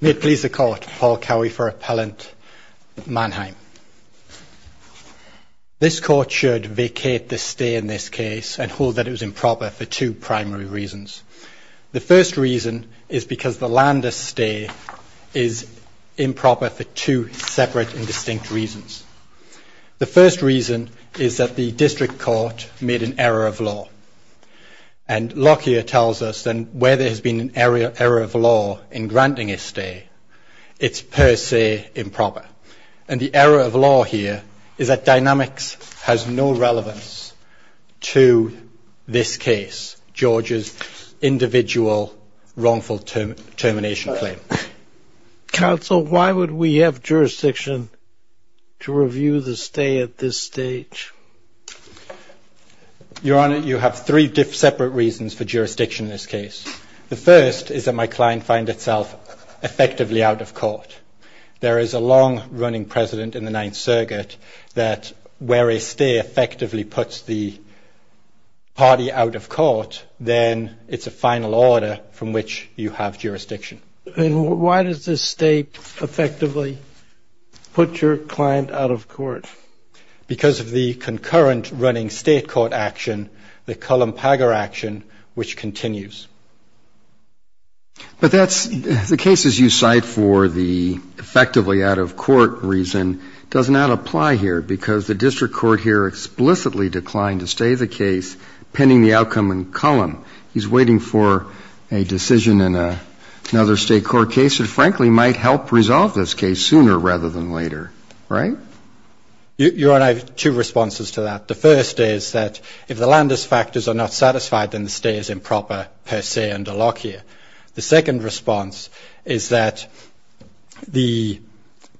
May it please the Court, Paul Cowie for Appellant, Manheim. This Court should vacate the stay in this case and hold that it was improper for two primary reasons. The first reason is because the lander's stay is improper for two separate and distinct reasons. The first reason is that the District Court made an error of law. And Lockyer tells us then where there has been an error of law in granting a stay, it's per se improper. And the error of law here is that dynamics has no relevance to this case, George's individual wrongful termination claim. Counsel, why would we have jurisdiction to review the stay at this stage? Your Honor, you have three separate reasons for jurisdiction in this case. The first is that my client finds itself effectively out of court. There is a long-running precedent in the Ninth Circuit that where a stay effectively puts the party out of court, then it's a final order from which you have jurisdiction. And why does the stay effectively put your client out of court? Because of the concurrent running state court action, the Cullum-Pagar action, which continues. But that's the cases you cite for the effectively out of court reason does not apply here because the District Court here explicitly declined to stay the case pending the outcome in Cullum. He's waiting for a decision in another state court case that, frankly, might help resolve this case sooner rather than later, right? Your Honor, I have two responses to that. The first is that if the Landis factors are not satisfied, then the stay is improper per se under lock here. The second response is that the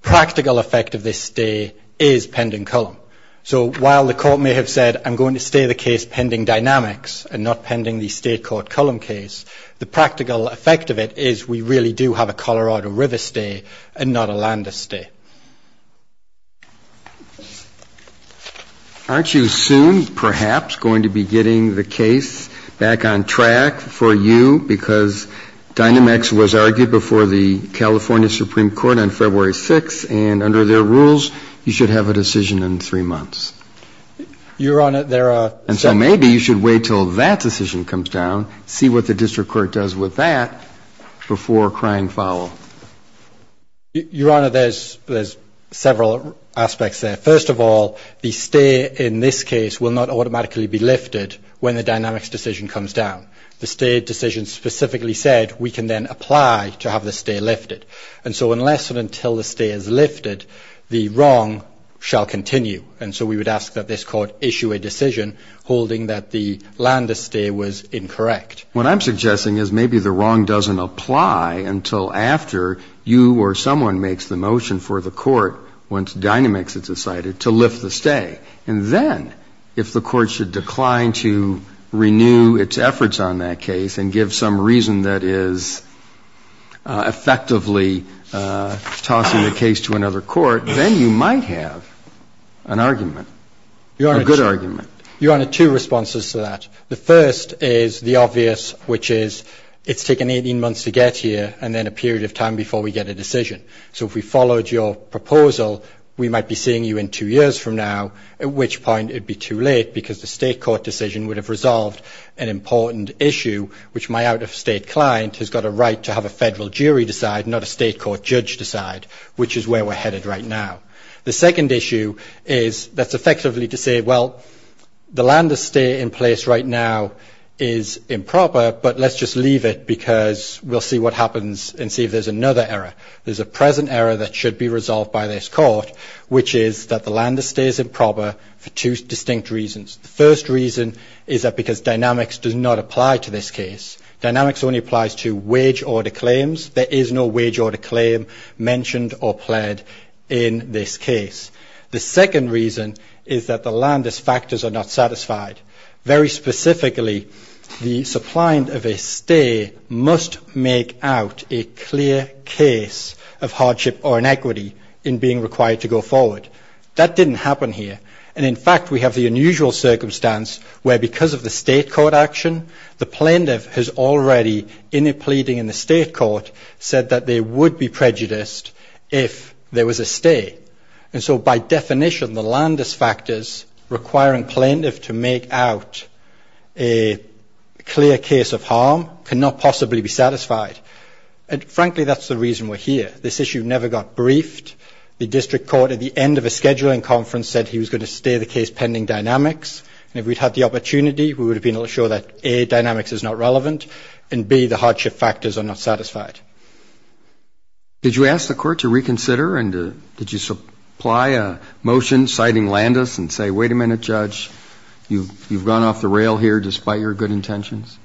practical effect of this stay is pending Cullum. So while the court may have said I'm going to stay the case pending dynamics and not pending the state court Cullum case, the practical effect of it is we really do have a Colorado River stay and not a Landis stay. Aren't you soon, perhaps, going to be getting the case back on track for you because Dynamex was argued before the California Supreme Court on February 6th and under their rules you should have a decision in three months? Your Honor, there are... And so maybe you should wait until that decision comes down, see what the district court does with that before crying foul. Your Honor, there's several aspects there. First of all, the stay in this case will not automatically be lifted when the Dynamex decision comes down. The stay decision specifically said we can then apply to have the stay lifted. And so unless and until the stay is lifted, the wrong shall continue. And so we would ask that this court issue a decision holding that the Landis stay was incorrect. What I'm suggesting is maybe the wrong doesn't apply until after you or someone makes the motion for the court once Dynamex has decided to lift the stay. And then if the court should decline to renew its efforts on that case and give some reason that is effectively tossing the case to another court, then you might have an argument, a good argument. Your Honor, two responses to that. The first is the obvious, which is it's taken 18 months to get here and then a period of time before we get a decision. So if we followed your proposal, we might be seeing you in two years from now, at which point it would be too late because the state court decision would have resolved an important issue, which my out-of-state client has got a right to have a Federal court judge decide, which is where we're headed right now. The second issue is that's effectively to say, well, the Landis stay in place right now is improper, but let's just leave it because we'll see what happens and see if there's another error. There's a present error that should be resolved by this court, which is that the Landis stay is improper for two distinct reasons. The first reason is that because Dynamex does not apply to this case. Dynamex only applies to wage order claims. There is no wage order claim mentioned or pled in this case. The second reason is that the Landis factors are not satisfied. Very specifically, the suppliant of a stay must make out a clear case of hardship or inequity in being required to go forward. That didn't happen here. And, in fact, we have the unusual circumstance where because of the state court action, the plaintiff has already, in a pleading in the state court, said that they would be prejudiced if there was a stay. And so by definition, the Landis factors requiring plaintiff to make out a clear case of harm cannot possibly be satisfied. And, frankly, that's the reason we're here. This issue never got briefed. The district court, at the end of a scheduling conference, said he was going to stay the case pending Dynamex. And if we'd had the opportunity, we would have been able to show that, A, Dynamex is not relevant, and, B, the hardship factors are not satisfied. Did you ask the court to reconsider? And did you supply a motion citing Landis and say, wait a minute, Judge, you've gone off the rail here despite your good intentions?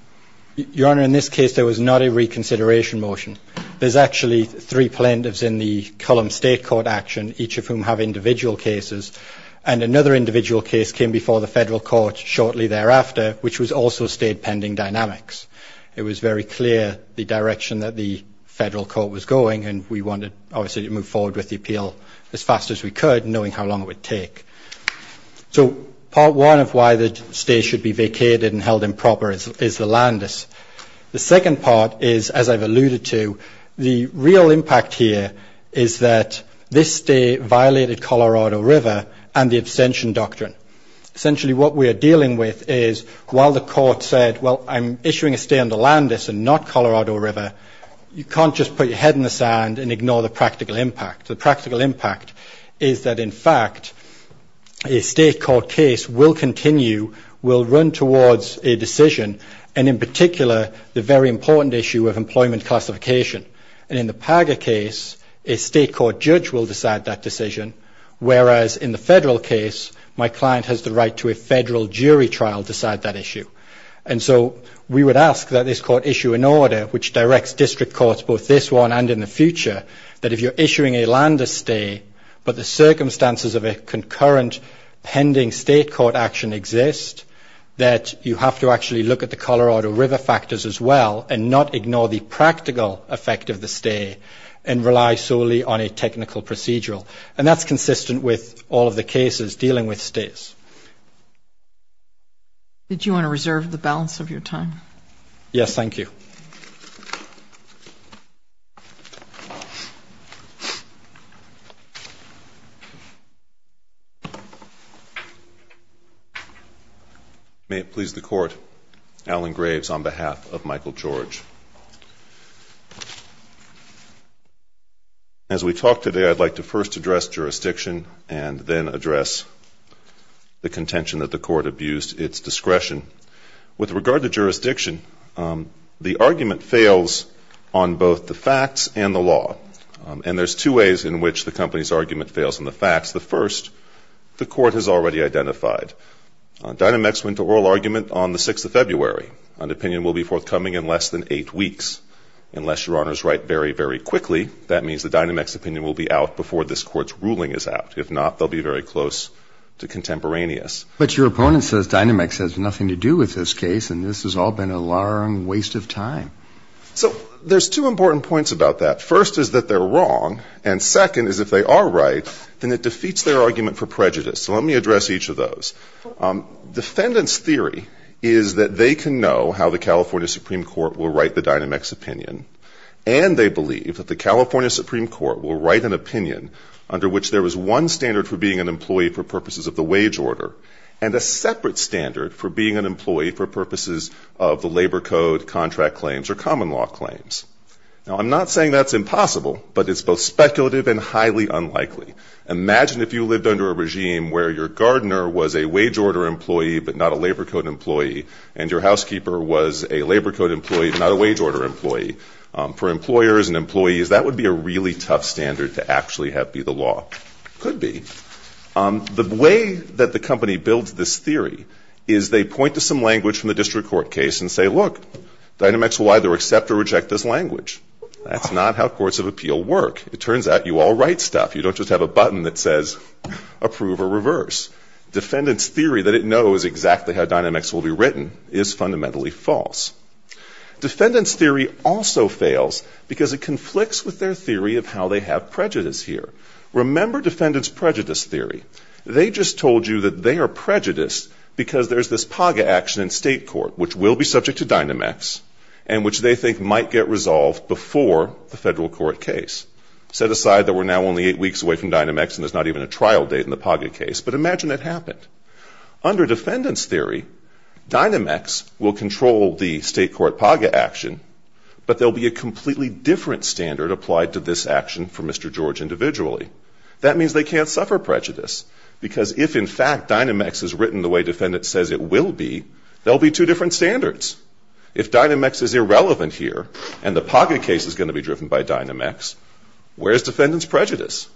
Your Honor, in this case, there was not a reconsideration motion. There's actually three plaintiffs in the Cullum State Court action, each of whom have individual cases. And another individual case came before the federal court shortly thereafter, which was also stayed pending Dynamex. It was very clear the direction that the federal court was going, and we wanted, obviously, to move forward with the appeal as fast as we could, knowing how long it would take. So part one of why the stay should be vacated and held improper is the Landis. The second part is, as I've alluded to, the real impact here is that this stay violated Colorado River and the abstention doctrine. Essentially, what we are dealing with is while the court said, well, I'm issuing a stay under Landis and not Colorado River, you can't just put your head in the sand and ignore the practical impact. The practical impact is that, in fact, a state court case will continue, will run towards a decision, and, in particular, the very important issue of employment classification. And in the Paga case, a state court judge will decide that decision, whereas in the federal case, my client has the right to a federal jury trial to decide that issue. And so we would ask that this court issue an order which directs district courts, both this one and in the future, that if you're issuing a Landis stay, but the circumstances of a concurrent pending state court action exist, that you have to actually look at the Colorado River factors as well and not ignore the practical effect of the stay and rely solely on a technical procedural. And that's consistent with all of the cases dealing with stays. Did you want to reserve the balance of your time? Yes. Thank you. May it please the Court, Alan Graves on behalf of Michael George. As we talk today, I'd like to first address jurisdiction and then address the contention that the Court abused its discretion. With regard to jurisdiction, the argument fails on both the facts and the law. And there's two ways in which the company's argument fails on the facts. The first, the Court has already identified. Dynamex went to oral argument on the 6th of February. An opinion will be forthcoming in less than eight weeks. Unless Your Honors write very, very quickly, that means the Dynamex opinion will be out before this Court's ruling is out. If not, they'll be very close to contemporaneous. But your opponent says Dynamex has nothing to do with this case and this has all been a long waste of time. So there's two important points about that. First is that they're wrong. And second is if they are right, then it defeats their argument for prejudice. So let me address each of those. Defendants' theory is that they can know how the California Supreme Court will write the Dynamex opinion. And they believe that the California Supreme Court will write an opinion under which there is one standard for being an employee for purposes of the wage order and a separate standard for being an employee for purposes of the labor code, contract claims, or common law claims. Now, I'm not saying that's impossible, but it's both speculative and highly unlikely. Imagine if you lived under a regime where your gardener was a wage order employee but not a labor code employee, and your housekeeper was a labor code employee but not a wage order employee. For employers and employees, that would be a really tough standard to actually have be the law. It could be. The way that the company builds this theory is they point to some language from the district court case and say, look, Dynamex will either accept or reject this language. That's not how courts of appeal work. It turns out you all write stuff. You don't just have a button that says approve or reverse. Defendants' theory that it knows exactly how Dynamex will be written is fundamentally false. Defendants' theory also fails because it conflicts with their theory of how they have prejudice here. Remember defendants' prejudice theory. They just told you that they are prejudiced because there's this PAGA action in state court which will be subject to Dynamex and which they think might get resolved before the federal court case. Set aside that we're now only eight weeks away from Dynamex and there's not even a trial date in the PAGA case, but imagine it happened. Under defendants' theory, Dynamex will control the state court PAGA action, but there will be a completely different standard applied to this action for Mr. George individually. That means they can't suffer prejudice because if, in fact, Dynamex is written the way defendants says it will be, there will be two different standards. If Dynamex is irrelevant here and the PAGA case is going to be driven by Dynamex, where is defendants' prejudice?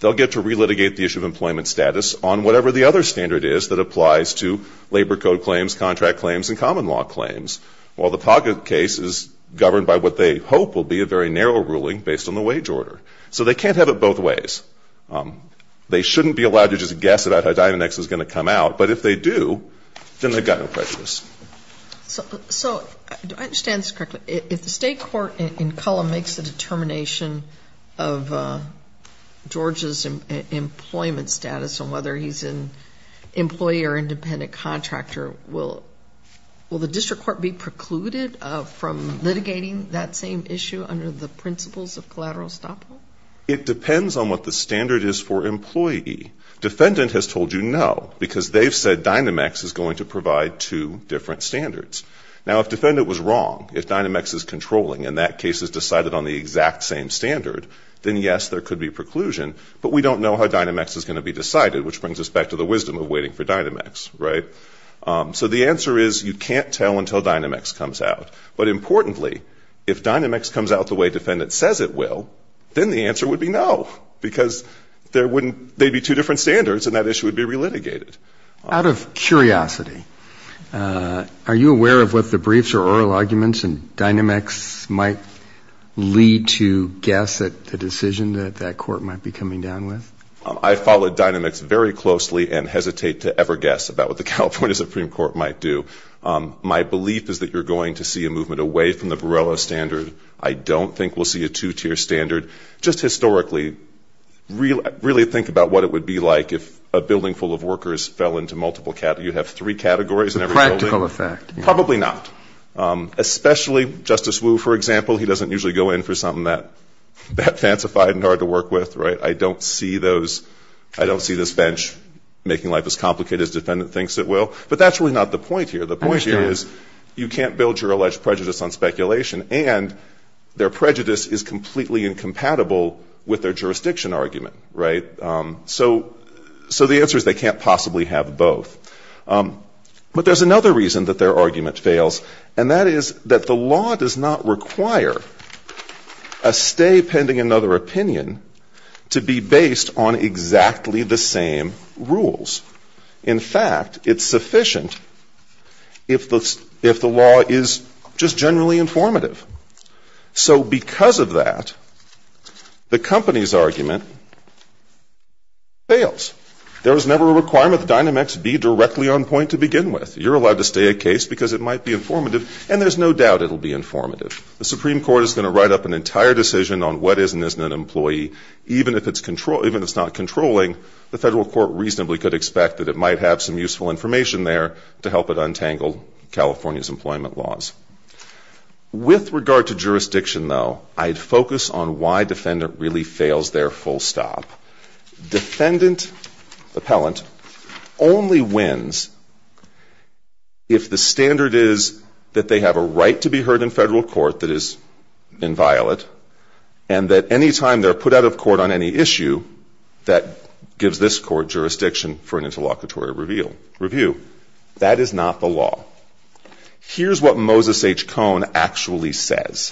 They'll get to relitigate the issue of employment status on whatever the other standard is that applies to labor code claims, contract claims, and common law claims, while the PAGA case is governed by what they hope will be a very narrow ruling based on the wage order. So they can't have it both ways. They shouldn't be allowed to just guess about how Dynamex is going to come out, but if they do, then they've got no prejudice. So do I understand this correctly? If the state court in Cullum makes a determination of George's employment status on whether he's an employee or independent contractor, will the district court be precluded from litigating that same issue under the principles of collateral estoppel? It depends on what the standard is for employee. Defendant has told you no, because they've said Dynamex is going to provide two different standards. Now, if defendant was wrong, if Dynamex is controlling, and that case is decided on the exact same standard, then yes, there could be preclusion, but we don't know how Dynamex is going to be decided, which brings us back to the wisdom of waiting for Dynamex, right? So the answer is you can't tell until Dynamex comes out. But importantly, if Dynamex comes out the way defendant says it will, then the answer would be no, because there wouldn't be two different standards, and that issue would be relitigated. Out of curiosity, are you aware of what the briefs or oral arguments in Dynamex might lead to guess at the decision that that court might be coming down with? I follow Dynamex very closely and hesitate to ever guess about what the California Supreme Court might do. My belief is that you're going to see a movement away from the Borrello standard. I don't think we'll see a two-tier standard. Just historically, really think about what it would be like if a building full of workers fell into multiple categories. You'd have three categories in every building. A practical effect. Probably not, especially Justice Wu, for example. He doesn't usually go in for something that fancified and hard to work with, right? I don't see those ‑‑ I don't see this bench making life as complicated as defendant thinks it will. But that's really not the point here. The point here is you can't build your alleged prejudice on speculation. And their prejudice is completely incompatible with their jurisdiction argument. Right? So the answer is they can't possibly have both. But there's another reason that their argument fails. And that is that the law does not require a stay pending another opinion to be based on exactly the same rules. In fact, it's sufficient if the law is just generally informative. So because of that, the company's argument fails. There was never a requirement that Dynamex be directly on point to begin with. You're allowed to stay a case because it might be informative. And there's no doubt it will be informative. The Supreme Court is going to write up an entire decision on what is and isn't an employee, even if it's not controlling, the federal court reasonably could expect that it might have some useful information there to help it untangle California's employment laws. With regard to jurisdiction, though, I'd focus on why defendant really fails their full stop. Defendant, appellant, only wins if the standard is that they have a right to be heard in federal court that is inviolate. And that any time they're put out of court on any issue, that gives this court jurisdiction for an interlocutory review. That is not the law. Here's what Moses H. Cone actually says.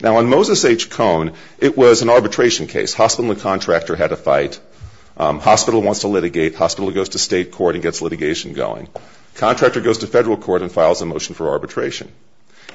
Now, on Moses H. Cone, it was an arbitration case. Hospital and contractor had a fight. Hospital wants to litigate. Hospital goes to state court and gets litigation going. Contractor goes to federal court and files a motion for arbitration.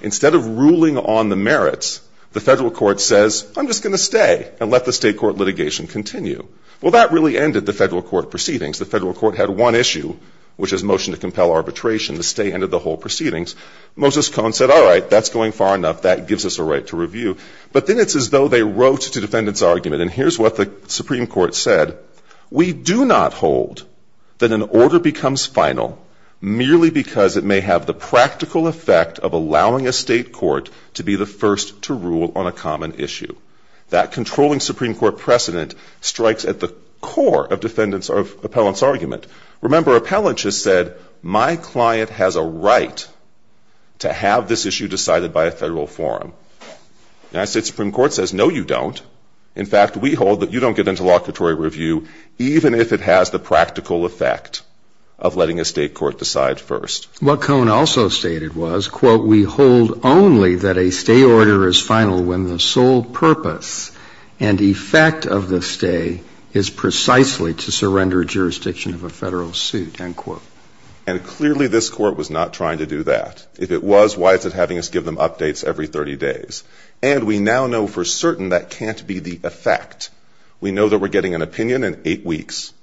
Instead of ruling on the merits, the federal court says, I'm just going to stay and let the state court litigation continue. Well, that really ended the federal court proceedings. The federal court had one issue, which is motion to compel arbitration. The stay ended the whole proceedings. Moses H. Cone said, all right, that's going far enough. That gives us a right to review. But then it's as though they wrote to defendant's argument, and here's what the Supreme Court said. We do not hold that an order becomes final merely because it may have the practical effect of allowing a state court to be the first to rule on a common issue. That controlling Supreme Court precedent strikes at the core of defendant's or appellant's argument. Remember, appellant just said, my client has a right to have this issue decided by a federal forum. United States Supreme Court says, no, you don't. In fact, we hold that you don't get into locatory review even if it has the practical effect of letting a state court decide first. What Cone also stated was, quote, we hold only that a stay order is final when the sole purpose and effect of the stay is precisely to surrender jurisdiction of a federal suit, end quote. And clearly this court was not trying to do that. If it was, why is it having us give them updates every 30 days? And we now know for certain that can't be the effect. We know that we're getting an opinion in eight weeks,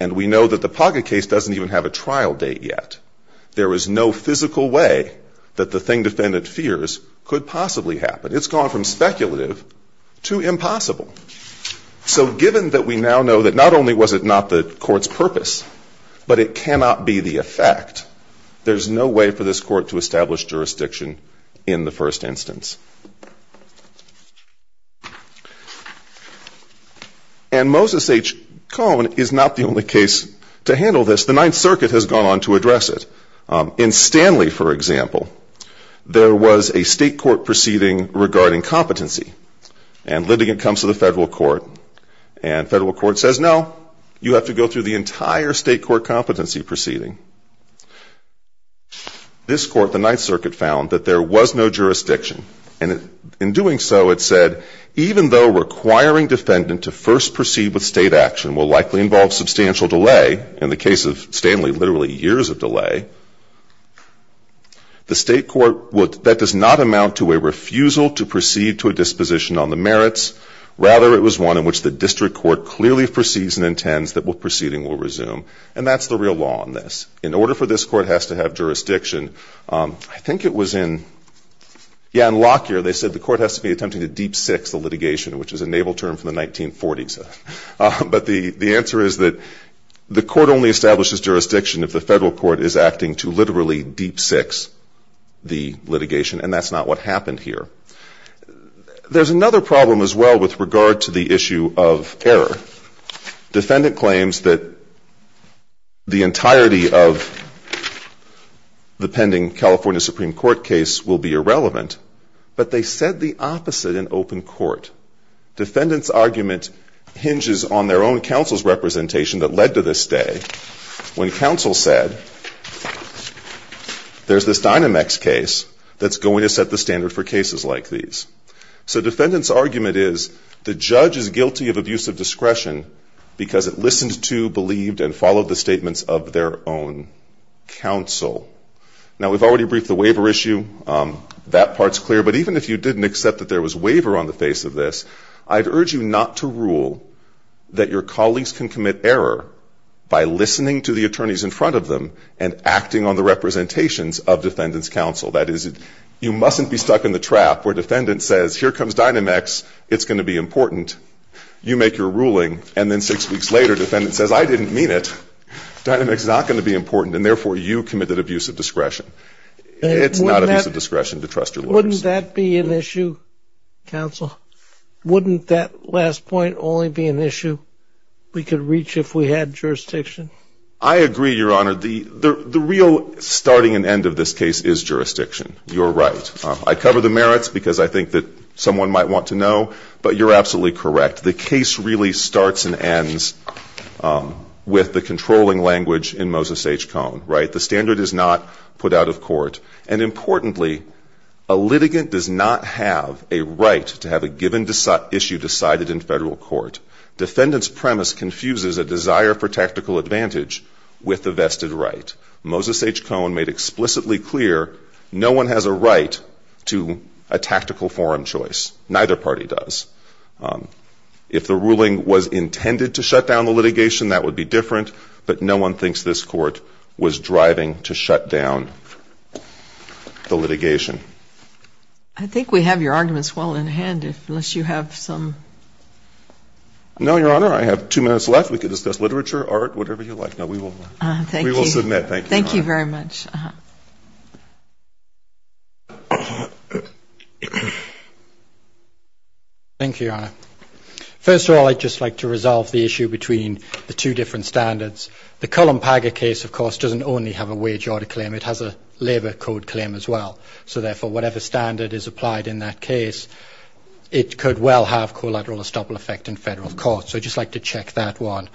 and we know that the Paga case doesn't even have a trial date yet. There is no physical way that the thing defendant fears could possibly happen. It's gone from speculative to impossible. So given that we now know that not only was it not the court's purpose, but it cannot be the effect, there's no way for this court to establish jurisdiction in the first instance. And Moses H. Cone is not the only case to handle this. The Ninth Circuit has gone on to address it. In Stanley, for example, there was a state court proceeding regarding competency. And litigant comes to the federal court, and federal court says, no, you have to go through the entire state court competency proceeding. This court, the Ninth Circuit, found that there was no jurisdiction. And in doing so, it said, even though requiring defendant to first proceed with state action will likely involve substantial delay, in the case of Stanley, literally years of delay, the state court, that does not amount to a refusal to proceed to a disposition on the merits. Rather, it was one in which the district court clearly proceeds and intends that the proceeding will resume. And that's the real law on this. In order for this court has to have jurisdiction, I think it was in Lockyer, they said the court has to be attempting to deep six the litigation, which is a naval term from the 1940s. But the answer is that the court only establishes jurisdiction if the federal court is acting to literally deep six the litigation. And that's not what happened here. There's another problem as well with regard to the issue of error. Defendant claims that the entirety of the pending California Supreme Court case will be irrelevant. But they said the opposite in open court. Defendant's argument hinges on their own counsel's representation that led to this day, when counsel said, there's this Dynamex case that's going to set the standard for cases like these. So defendant's argument is the judge is guilty of abusive discretion because it listened to, believed, and followed the statements of their own counsel. Now, we've already briefed the waiver issue. That part's clear. But even if you didn't accept that there was waiver on the face of this, I'd urge you not to rule that your colleagues can commit error by listening to the attorneys in front of them and acting on the representations of defendant's counsel. That is, you mustn't be stuck in the trap where defendant says, here comes Dynamex. It's going to be important. You make your ruling. And then six weeks later, defendant says, I didn't mean it. Dynamex is not going to be important. And therefore, you committed abusive discretion. It's not abusive discretion to trust your lawyers. Wouldn't that be an issue, counsel? Wouldn't that last point only be an issue we could reach if we had jurisdiction? I agree, Your Honor. The real starting and end of this case is jurisdiction. You're right. I cover the merits because I think that someone might want to know. But you're absolutely correct. The case really starts and ends with the controlling language in Moses H. Cohn, right? The standard is not put out of court. And importantly, a litigant does not have a right to have a given issue decided in federal court. Defendant's premise confuses a desire for tactical advantage with a vested right. Moses H. Cohn made explicitly clear no one has a right to a tactical forum choice. Neither party does. If the ruling was intended to shut down the litigation, that would be different. But no one thinks this court was driving to shut down the litigation. I think we have your arguments well in hand, unless you have some. No, Your Honor. I have two minutes left. We could discuss literature, art, whatever you like. No, we will. Thank you. We will submit. Thank you, Your Honor. Thank you very much. Thank you, Your Honor. First of all, I'd just like to resolve the issue between the two different standards. The Cullen-Paga case, of course, doesn't only have a wage order claim. It has a labor code claim as well. So, therefore, whatever standard is applied in that case, it could well have collateral or stubble effect in federal court. So I'd just like to check that one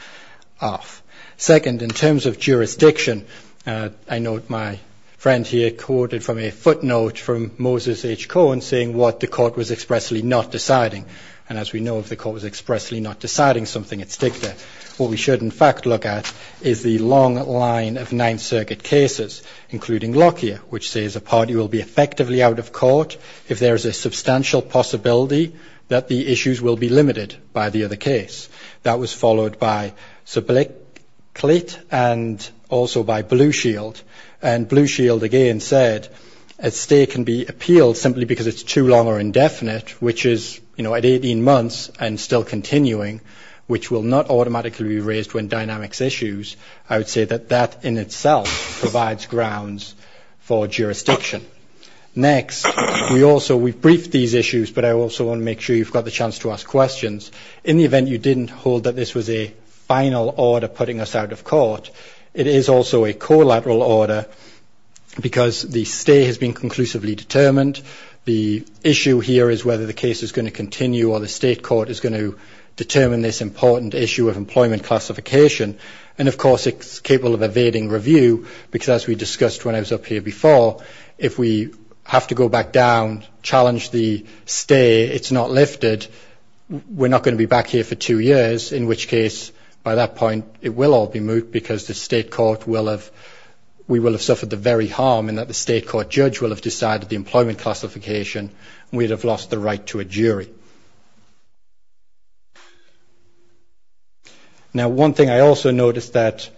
off. Second, in terms of jurisdiction, I note my friend here quoted from a footnote from Moses H. Cohn saying what the court was expressly not deciding. And as we know, if the court was expressly not deciding something, it's dicta. What we should, in fact, look at is the long line of Ninth Circuit cases, including Lockyer, which says a party will be effectively out of court if there is a substantial possibility that the issues will be limited by the other case. That was followed by Subliquit and also by Blue Shield. And Blue Shield, again, said a stay can be appealed simply because it's too long or indefinite, which is, you know, at 18 months and still continuing, which will not automatically be raised when dynamics issues. I would say that that in itself provides grounds for jurisdiction. Next, we also we've briefed these issues, but I also want to make sure you've got the chance to ask questions. In the event you didn't hold that this was a final order putting us out of court, it is also a collateral order because the stay has been conclusively determined. The issue here is whether the case is going to continue or the state court is going to determine this important issue of employment classification. And, of course, it's capable of evading review because, as we discussed when I was up here before, if we have to go back down, challenge the stay, it's not lifted. We're not going to be back here for two years, in which case, by that point, it will all be moot because the state court will have we will have suffered the very harm in that the state court judge will have decided the employment classification. We'd have lost the right to a jury. Now, one thing I also noticed that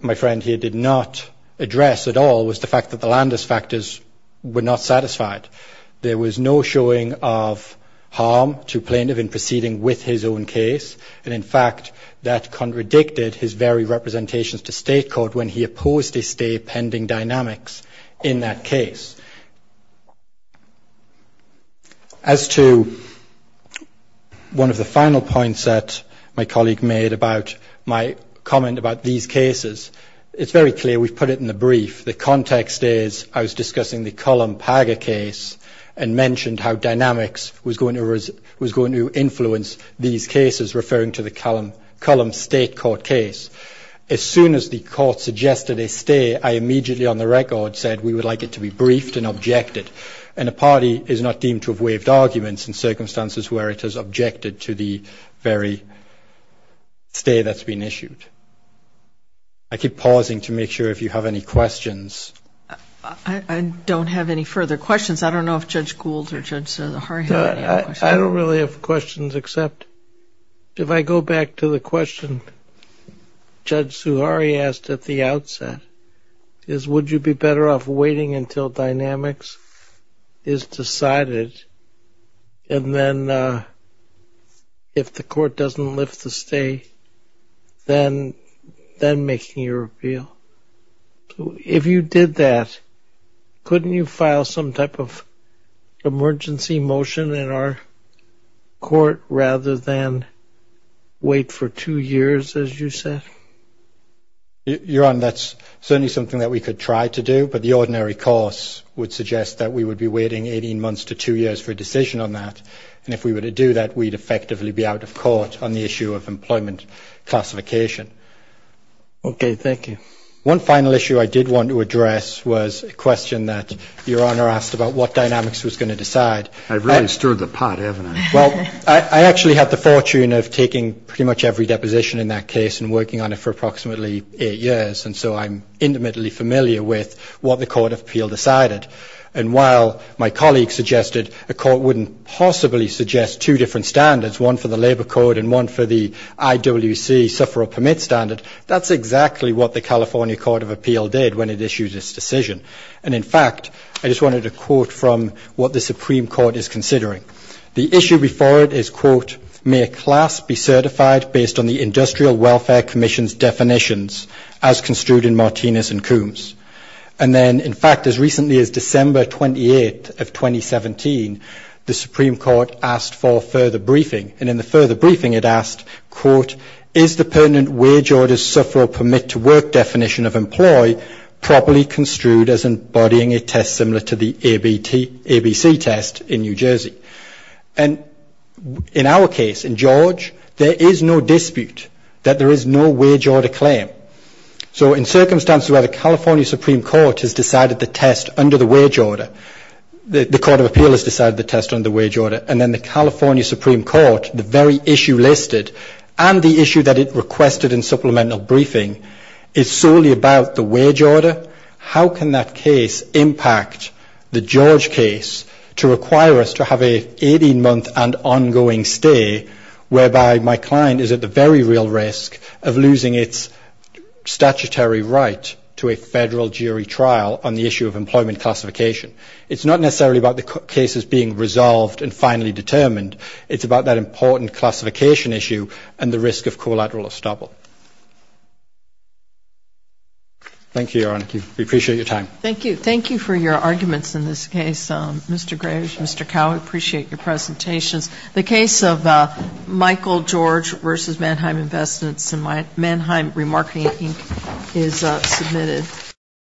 my friend here did not address at all was the fact that the Landis factors were not satisfied. There was no showing of harm to plaintiff in proceeding with his own case, and, in fact, that contradicted his very representations to state court when he opposed a stay pending dynamics in that case. As to one of the final points that my colleague made about my comment about these cases, it's very clear we've put it in the brief. The context is I was discussing the Cullum-Paga case and mentioned how dynamics was going to influence these cases, referring to the Cullum state court case. As soon as the court suggested a stay, I immediately, on the record, said we would like it to be briefed and objected. And a party is not deemed to have waived arguments in circumstances where it has objected to the very stay that's been issued. I keep pausing to make sure if you have any questions. I don't have any further questions. I don't know if Judge Gould or Judge Suhari have any questions. I don't really have questions, except if I go back to the question Judge Suhari asked at the outset, is would you be better off waiting until dynamics is decided, and then if the court doesn't lift the stay, then making your appeal? If you did that, couldn't you file some type of emergency motion in our court rather than wait for two years, as you said? Your Honor, that's certainly something that we could try to do, but the ordinary course would suggest that we would be waiting 18 months to two years for a decision on that. And if we were to do that, we'd effectively be out of court on the issue of employment classification. Okay. Thank you. One final issue I did want to address was a question that Your Honor asked about what dynamics was going to decide. I've really stirred the pot, haven't I? Well, I actually had the fortune of taking pretty much every deposition in that case and working on it for approximately eight years, and so I'm intimately familiar with what the Court of Appeal decided. And while my colleagues suggested a court wouldn't possibly suggest two different standards, one for the labor code and one for the IWC sufferer permit standard, that's exactly what the California Court of Appeal did when it issued its decision. And in fact, I just wanted to quote from what the Supreme Court is considering. The issue before it is, quote, may a class be certified based on the Industrial Welfare Commission's definitions, as construed in Martinez and Coombs. And then, in fact, as recently as December 28th of 2017, the Supreme Court asked for further briefing. And in the further briefing, it asked, quote, is the permanent wage order sufferer permit to work definition of employee properly construed as embodying a test similar to the ABC test in New Jersey? And in our case, in George, there is no dispute that there is no wage order claim. So in circumstances where the California Supreme Court has decided the test under the wage order, the Court of Appeal has decided the test under the wage order, and then the California Supreme Court, the very issue listed, and the issue that it requested in supplemental briefing, is solely about the wage order, how can that case impact the George case to require us to have an 18-month and ongoing stay, whereby my client is at the very real risk of losing its statutory right to a federal jury trial on the issue of employment classification. It's not necessarily about the cases being resolved and finally determined. It's about that important classification issue and the risk of collateral estoppel. Thank you, Your Honor. We appreciate your time. Thank you. Thank you for your arguments in this case, Mr. Graves, Mr. Cowell. We appreciate your presentations. The case of Michael George v. Mannheim Investments and Mannheim Remarketing, Inc. is submitted.